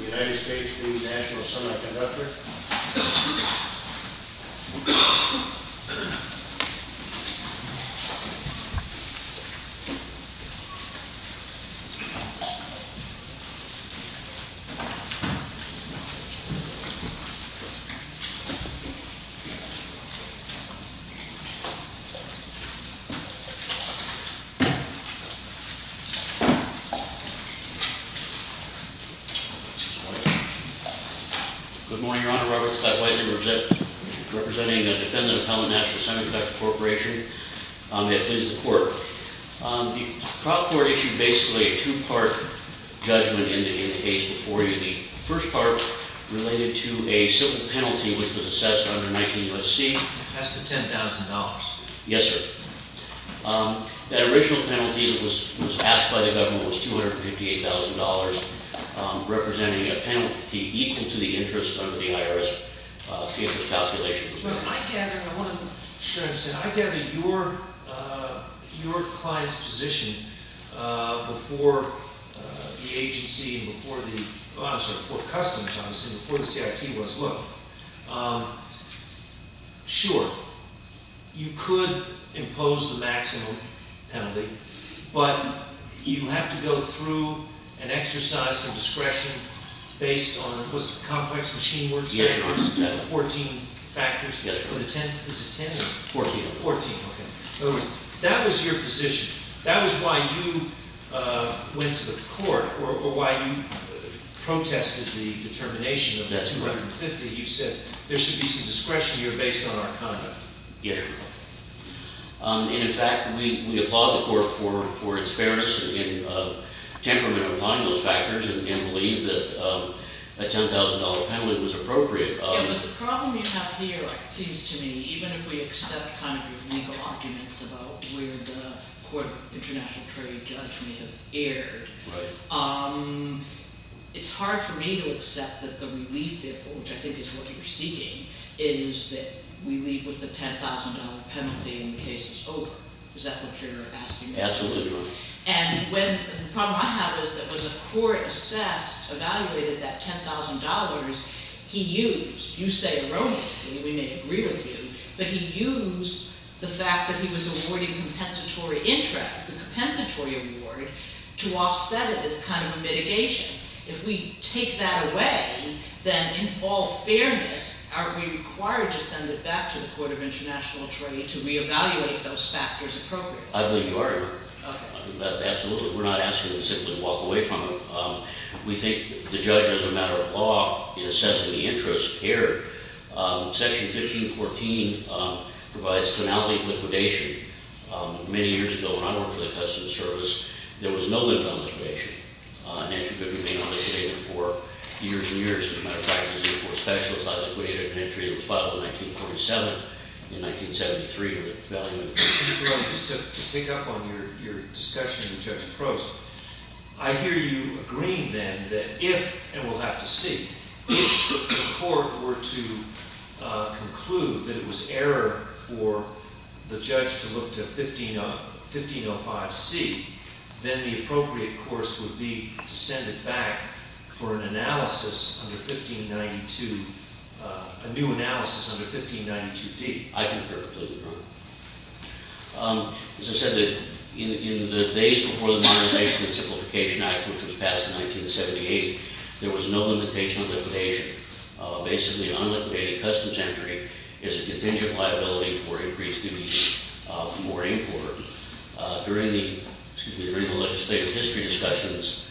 United States v. National Semiconductor Good morning, Your Honor. Robert Scott Whiteley, representing a defendant appellant, National Semiconductor Corporation. It is the court. The trial court issued basically a two-part judgment in the case before you. The first part related to a civil penalty which was assessed under 19 U.S.C. That's the $10,000. Yes, sir. That original penalty that was passed by the government was $258,000, representing a penalty equal to the interest under the IRS. The interest calculation was not... But I gather... I want to... Sure, I understand. I gather your client's position before the agency and before the... I'm sorry, before Customs, obviously, before the CIT was... Sure, you could impose the maximum penalty, but you have to go through an exercise of discretion based on... Was it complex machine words? Yes, Your Honor. 14 factors? Yes, Your Honor. Was it 10? 14. 14, okay. In other words, that was your position. That was why you went to the court or why you protested the determination of the $250,000. You said there should be some discretion here based on our conduct. Yes, Your Honor. And, in fact, we applaud the court for its fairness and temperament upon those factors and believe that a $10,000 penalty was appropriate. Yeah, but the problem you have here, it seems to me, even if we accept kind of your legal arguments about where the court, international jury, judge may have erred... Right. It's hard for me to accept that the relief, which I think is what you're seeking, is that we leave with the $10,000 penalty and the case is over. Is that what you're asking? Absolutely, Your Honor. And the problem I have is that when the court assessed, evaluated that $10,000, he used, you say erroneously, we may agree with you, but he used the fact that he was awarding compensatory interest, the compensatory award, to offset it as kind of a mitigation. If we take that away, then in all fairness, are we required to send it back to the court of international jury to reevaluate those factors appropriately? I believe you are, Your Honor. Okay. Absolutely. We're not asking you to simply walk away from it. We think the judge, as a matter of law, in assessing the interest here, Section 1514 provides tonality liquidation. Many years ago, when I worked for the Customs Service, there was no liquidation. An entry couldn't be liquidated for years and years. As a matter of fact, it was for a specialist. I liquidated an entry that was filed in 1947. In 1973, it was evaluated. Your Honor, just to pick up on your discussion with Judge Prost, I hear you agreeing then that if, and we'll have to see, if the court were to conclude that it was error for the judge to look to 1505C, then the appropriate course would be to send it back for an analysis under 1592, a new analysis under 1592D. I concur. Please, Your Honor. As I said, in the days before the Modernization and Simplification Act, which was passed in 1978, there was no limitation on liquidation. Basically, an unliquidated customs entry is a contingent liability for increased duties for import. During the legislative history discussions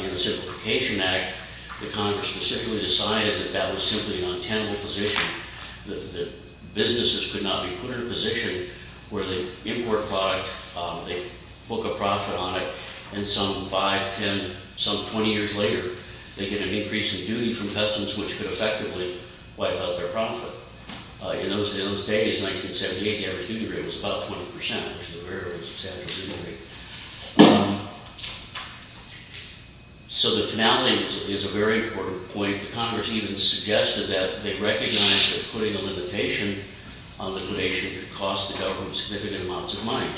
in the Simplification Act, the Congress specifically decided that that was simply an untenable position, that businesses could not be put in a position where the import product, they book a profit on it, and some 5, 10, some 20 years later, they get an increase in duty from customs, which could effectively wipe out their profit. In those days, 1978, the average duty rate was about 20%, which is a very substantial duty rate. So the finality is a very important point. The Congress even suggested that they recognize that putting a limitation on liquidation could cost the government significant amounts of money,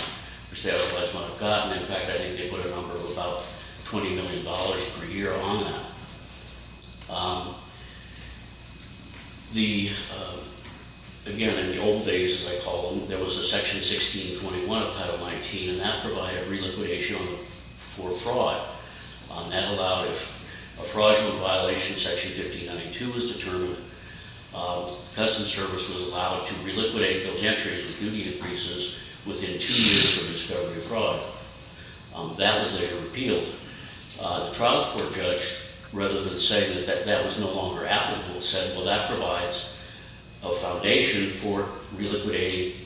which they otherwise might have gotten. In fact, I think they put a number of about $20 million per year on that. Again, in the old days, as I call them, there was a Section 1621 of Title 19, and that provided reliquidation for fraud. That allowed, if a fraudulent violation in Section 1592 was determined, Customs Service was allowed to reliquidate those entries with duty increases within two years of discovery of fraud. That was later repealed. The trial court judge, rather than saying that that was no longer applicable, said, well, that provides a foundation for reliquidating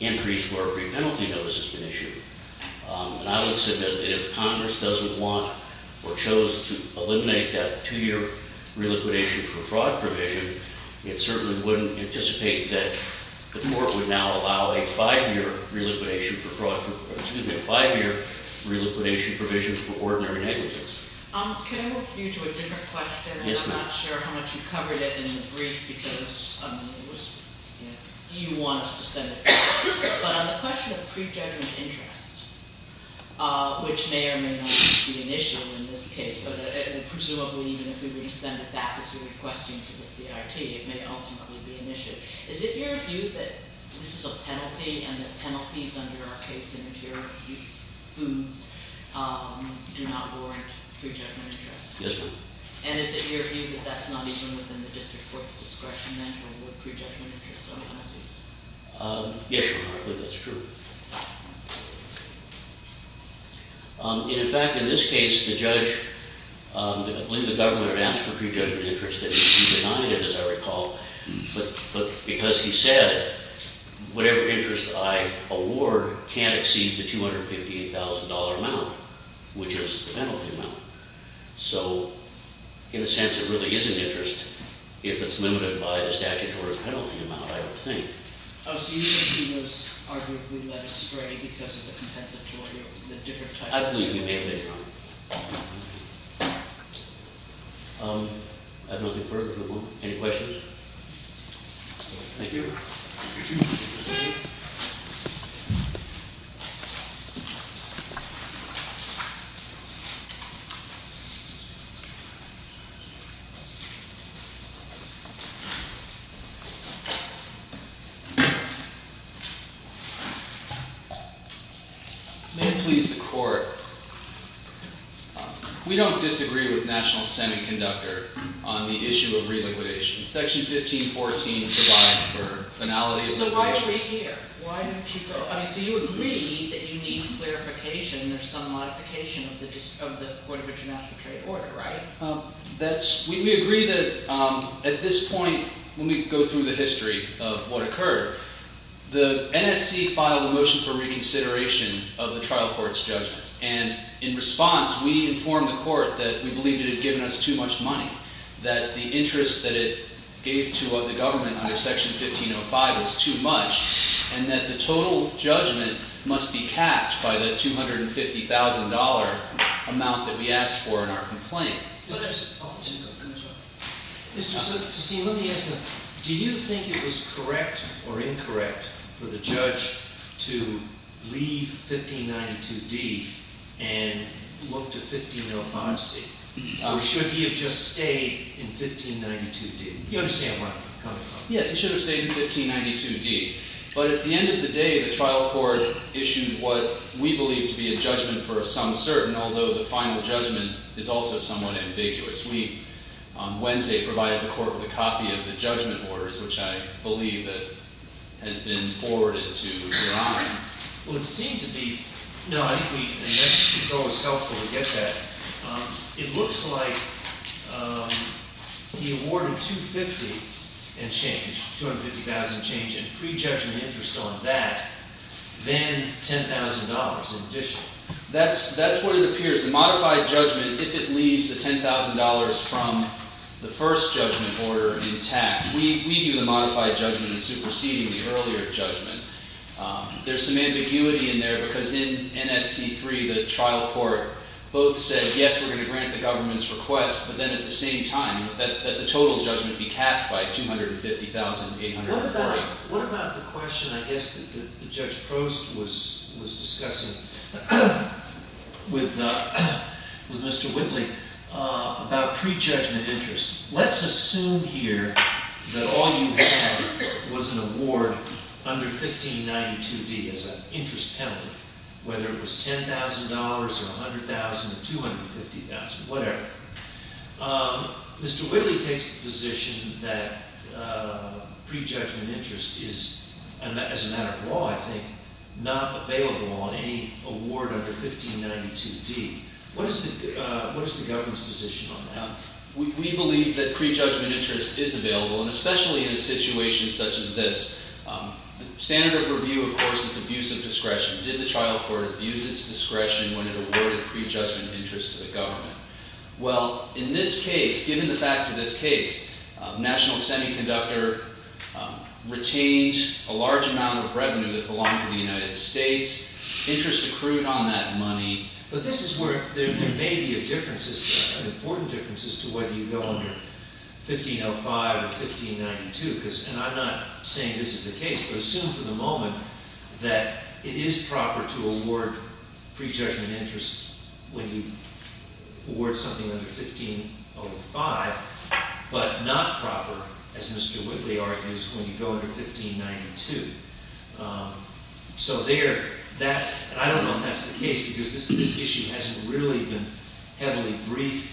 entries where a pre-penalty notice has been issued. And I would submit that if Congress doesn't want or chose to eliminate that two-year reliquidation for fraud provision, it certainly wouldn't anticipate that the court would now allow a five-year reliquidation provision for ordinary negligence. Can I move you to a different question? Yes, ma'am. I'm not sure how much you covered it in the brief because you want us to send it back. But on the question of pre-judgment interest, which may or may not be an issue in this case, and presumably even if we were to send it back as you're requesting to the CRT, it may ultimately be an issue. Is it your view that this is a penalty and that penalties under our case in interior foods do not warrant pre-judgment interest? Yes, ma'am. And is it your view that that's not even within the district court's discretion then to include pre-judgment interest on penalties? Yes, Your Honor, I believe that's true. In fact, in this case, the judge, I believe the government had asked for pre-judgment interest and denied it, as I recall. But because he said, whatever interest I award can't exceed the $258,000 amount, which is the penalty amount. So in a sense, it really is an interest if it's limited by the statutory penalty amount, I would think. Oh, so you think he was arguably led astray because of the compensatory of the different types? I believe he may have been, Your Honor. I have nothing further for the moment. Any questions? Thank you. May it please the Court. We don't disagree with National Senate conductor on the issue of reliquidation. Section 1514 provides for finality of liquidation. So why are we here? So you agree that you need clarification or some modification of the Court of International Trade order, right? We agree that at this point, when we go through the history of what occurred, the NSC filed a motion for reconsideration of the trial court's judgment. And in response, we informed the court that we believed it had given us too much money, that the interest that it gave to the government under Section 1505 was too much, and that the total judgment must be capped by the $250,000 amount that we asked for in our complaint. Mr. Soot, let me ask you, do you think it was correct or incorrect for the judge to leave 1592D and look to 1505C? Or should he have just stayed in 1592D? You understand what I'm coming from. Yes, he should have stayed in 1592D. But at the end of the day, the trial court issued what we believe to be a judgment for a sum certain, although the final judgment is also somewhat ambiguous. We, on Wednesday, provided the court with a copy of the judgment orders, which I believe has been forwarded to your Honor. Well, it seemed to be... No, I think it's always helpful to get that. It looks like he awarded 250 and change, $250,000 and change in prejudgment interest on that, then $10,000 in addition. That's what it appears. The modified judgment, if it leaves the $10,000 from the first judgment order intact... We view the modified judgment as superseding the earlier judgment. There's some ambiguity in there, because in NSC 3, the trial court both said, yes, we're going to grant the government's request, but then at the same time, that the total judgment be capped by $250,840. What about the question, I guess, that Judge Prost was discussing with Mr. Whitley about prejudgment interest? Let's assume here that all you had was an award under 1592D as an interest penalty, whether it was $10,000 or $100,000 or $250,000, whatever. Mr. Whitley takes the position that prejudgment interest is, as a matter of law, I think, not available on any award under 1592D. What is the government's position on that? We believe that prejudgment interest is available, and especially in a situation such as this. The standard of review, of course, is abuse of discretion. Did the trial court abuse its discretion when it awarded prejudgment interest to the government? Well, in this case, given the fact of this case, National Semiconductor retained a large amount of revenue that belonged to the United States. Interest accrued on that money. But this is where there may be a difference, an important difference, as to whether you go under 1505 or 1592. And I'm not saying this is the case, but assume for the moment that it is proper to award prejudgment interest when you award something under 1505, but not proper, as Mr. Whitley argues, when you go under 1592. So there, that... And I don't know if that's the case, because this issue hasn't really been heavily briefed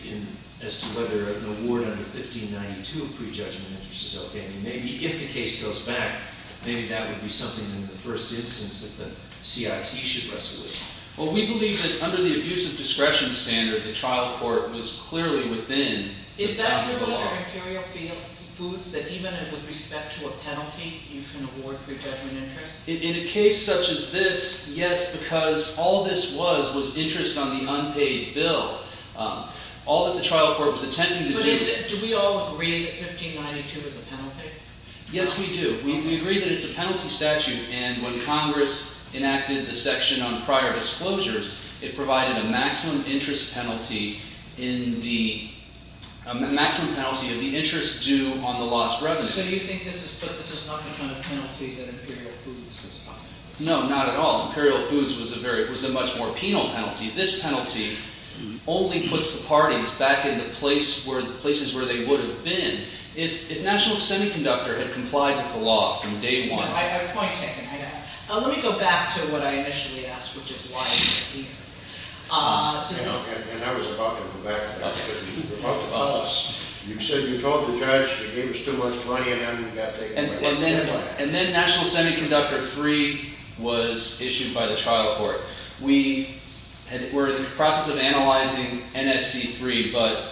as to whether an award under 1592 of prejudgment interest is OK. I mean, maybe if the case goes back, maybe that would be something in the first instance that the CIT should resolve. Well, we believe that under the abuse of discretion standard, the trial court was clearly within the applicable law. Is that true about our interior foods, that even with respect to a penalty, you can award prejudgment interest? In a case such as this, yes, because all this was was interest on the unpaid bill. All that the trial court was attempting to do... But do we all agree that 1592 is a penalty? Yes, we do. We agree that it's a penalty statute. And when Congress enacted the section on prior disclosures, it provided a maximum interest penalty in the... So you think this is not the kind of penalty that Imperial Foods was talking about? No, not at all. Imperial Foods was a much more penal penalty. This penalty only puts the parties back in the places where they would have been if National Semiconductor had complied with the law from day one. I have a point taken. I got it. Let me go back to what I initially asked, which is why... And I was about to go back to that. You said you told the judge you gave us too much money and then you got taken away. And then National Semiconductor 3 was issued by the trial court. We were in the process of analyzing NSC 3, but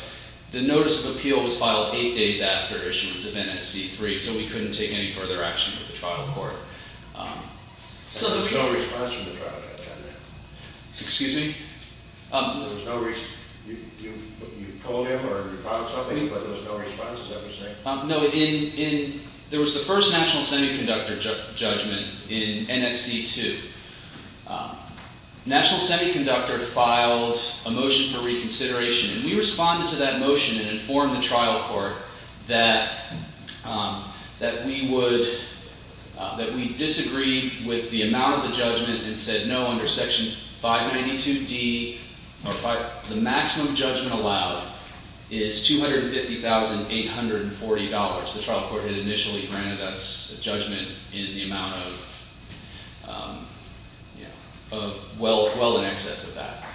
the notice of appeal was filed 8 days after issuance of NSC 3, so we couldn't take any further action with the trial court. There was no response from the trial court at that time. Excuse me? There was no response. You called him or you filed something, but there was no response, is that what you're saying? No, there was the first National Semiconductor judgment in NSC 2. National Semiconductor filed a motion for reconsideration, and we responded to that motion and informed the trial court that we disagreed with the amount of the judgment and said no, under Section 592D, the maximum judgment allowed is $250,840. The trial court had initially granted us a judgment in the amount of...well in excess of that.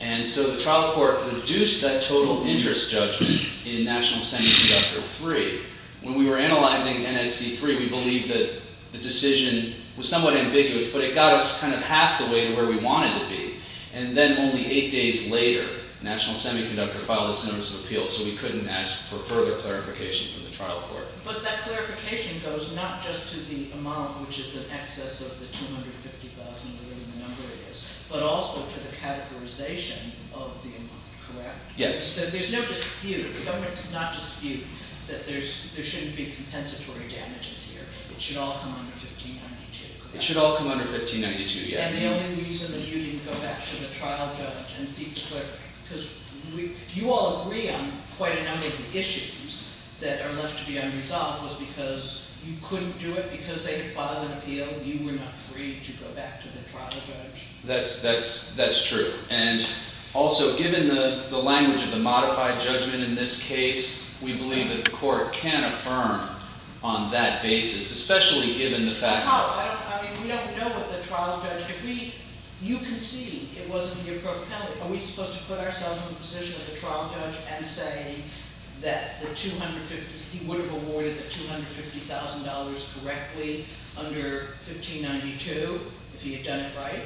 And so the trial court reduced that total interest judgment in National Semiconductor 3. When we were analyzing NSC 3, we believed that the decision was somewhat ambiguous, but it got us kind of half the way to where we wanted to be. And then only eight days later, National Semiconductor filed this notice of appeal, so we couldn't ask for further clarification from the trial court. But that clarification goes not just to the amount, which is in excess of the $250,000, whatever the number is, but also to the categorization of the amount, correct? Yes. So there's no dispute, the government does not dispute that there shouldn't be compensatory damages here. It should all come under 1592, correct? It should all come under 1592, yes. And the only reason that you didn't go back to the trial judge and seek... because you all agree on quite a number of the issues that are left to be unresolved was because you couldn't do it because they had filed an appeal and you were not free to go back to the trial judge. That's true. And also given the language of the modified judgment in this case, we believe that the court can affirm on that basis, especially given the fact that... No, I mean, we don't know what the trial judge... You conceded, it wasn't in your court penalty. Are we supposed to put ourselves in the position of the trial judge and say that he would have awarded the $250,000 correctly under 1592 if he had done it right?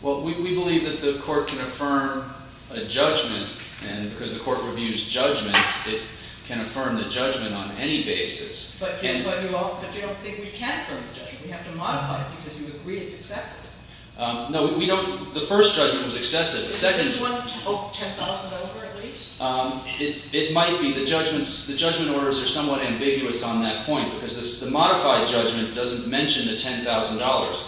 Well, we believe that the court can affirm a judgment and because the court reviews judgments, it can affirm the judgment on any basis. But you don't think we can affirm the judgment. We have to modify it because you agree it's excessive. No, we don't... the first judgment was excessive. The second... Oh, $10,000 over at least? It might be. The judgment orders are somewhat ambiguous on that point because the modified judgment doesn't mention the $10,000.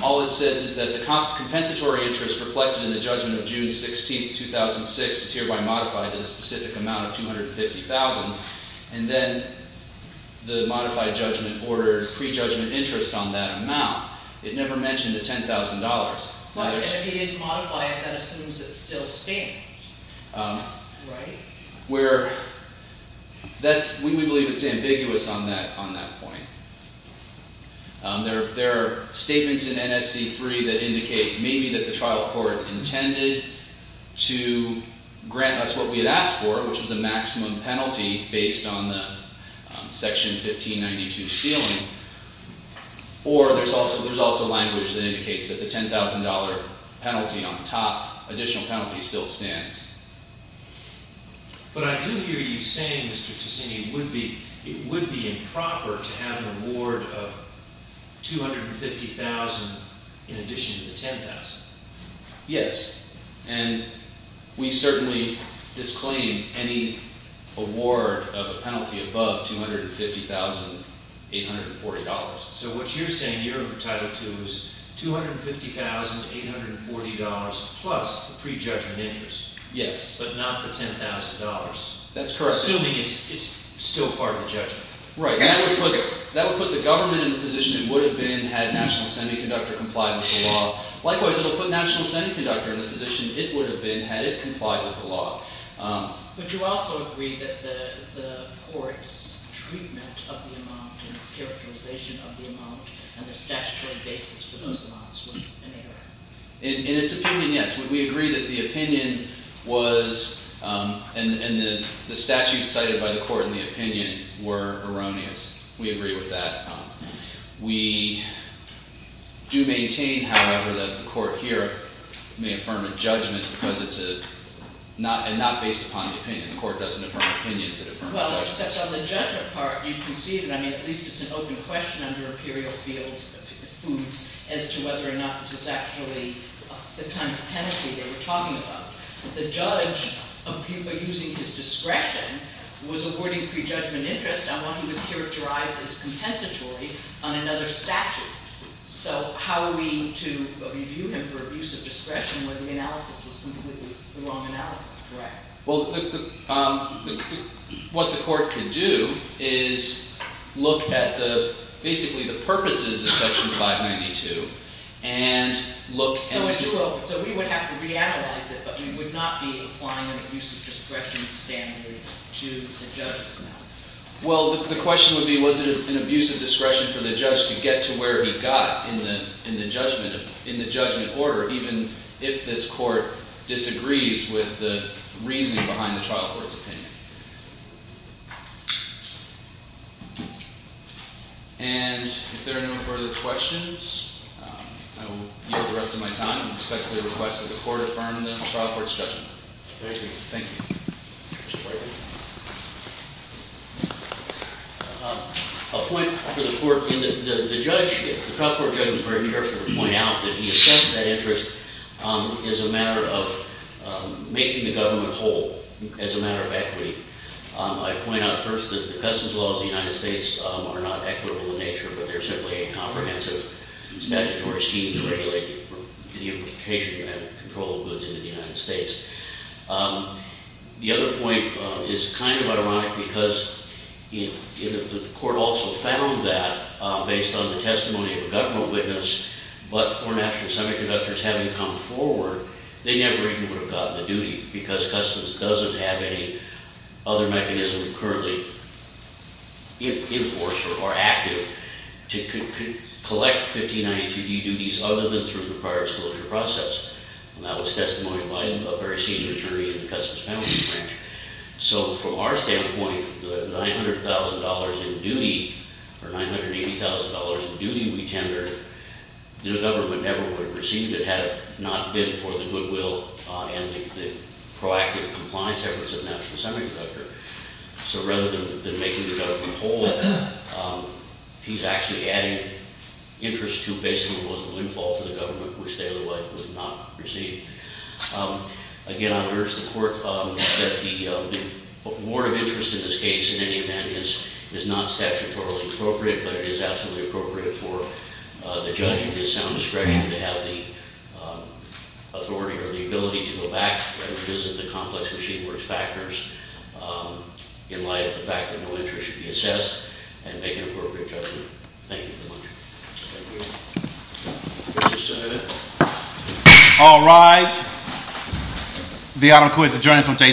All it says is that the compensatory interest reflected in the judgment of June 16, 2006 is hereby modified to the specific amount of $250,000 and then the modified judgment ordered pre-judgment interest on that amount. It never mentioned the $10,000. But if he didn't modify it, that assumes it still stands, right? We believe it's ambiguous on that point. There are statements in NSC 3 that indicate maybe that the trial court intended to grant us what we had asked for, which was a maximum penalty based on the Section 1592 ceiling, or there's also language that indicates that the $10,000 penalty on top, additional penalty, still stands. But I do hear you saying, Mr. Ticini, it would be improper to have an award of $250,000 in addition to the $10,000. Yes. And we certainly disclaim any award of a penalty above $250,840. So what you're saying you're tied up to is $250,840 plus the pre-judgment interest. Yes. But not the $10,000. That's correct. Assuming it's still part of the judgment. Right. That would put the government in a position it would have been had National Semiconductor complied with the law. Likewise, it would put National Semiconductor in a position it would have been had it complied with the law. But you also agree that the court's treatment of the amount and its characterization of the amount and the statutory basis for those amounts was inerrant. In its opinion, yes. We agree that the opinion was, and the statutes cited by the court in the opinion were erroneous. We agree with that. We do maintain, however, that the court here may affirm a judgment because it's not based upon the opinion. The court doesn't affirm opinions, it affirms judgments. Well, except on the judgment part, you can see it. I mean, at least it's an open question under Imperial Foods as to whether or not this is actually the kind of penalty they were talking about. The judge, by using his discretion, was awarding pre-judgment interest on what he was characterized as compensatory on another statute. So how are we to review him for abuse of discretion when the analysis was completely the wrong analysis? Right. Well, what the court could do is look at basically the purposes of Section 592 and look and see... So we would have to reanalyze it, Well, the question would be, was it an abuse of discretion for the judge to get to where he got in the judgment order, even if this court disagrees with the reasoning behind the trial court's opinion? And if there are no further questions, I will yield the rest of my time and respectfully request that the court affirm the trial court's judgment. Thank you. Thank you. A point for the court. The trial court judge was very careful to point out that he assessed that interest as a matter of making the government whole, as a matter of equity. I point out first that the customs laws of the United States are not equitable in nature, but they're simply a comprehensive statutory scheme to regulate the implication of control of goods into the United States. The other point is kind of ironic because the court also found that, based on the testimony of a government witness, but for national semiconductors having come forward, they never even would have gotten the duty because customs doesn't have any other mechanism currently in force or active to collect 1592D duties other than through the prior disclosure process. And that was testimony by a very senior attorney in the Customs Penalty Branch. So from our standpoint, the $900,000 in duty, or $980,000 in duty we tender, the government never would have received it had it not been for the goodwill and the proactive compliance efforts of national semiconductor. So rather than making the government whole, he's actually adding interest to basically what was a windfall to the government, which they would not receive. Again, I urge the court that the award of interest in this case, in any event, is not statutorily appropriate, but it is absolutely appropriate for the judge in his sound discretion to have the authority or the ability to go back and revisit the complex machine works factors in light of the fact that no interest should be assessed and make an appropriate judgment. Thank you very much. Thank you. All rise. The item, of course, is adjourned from day to day.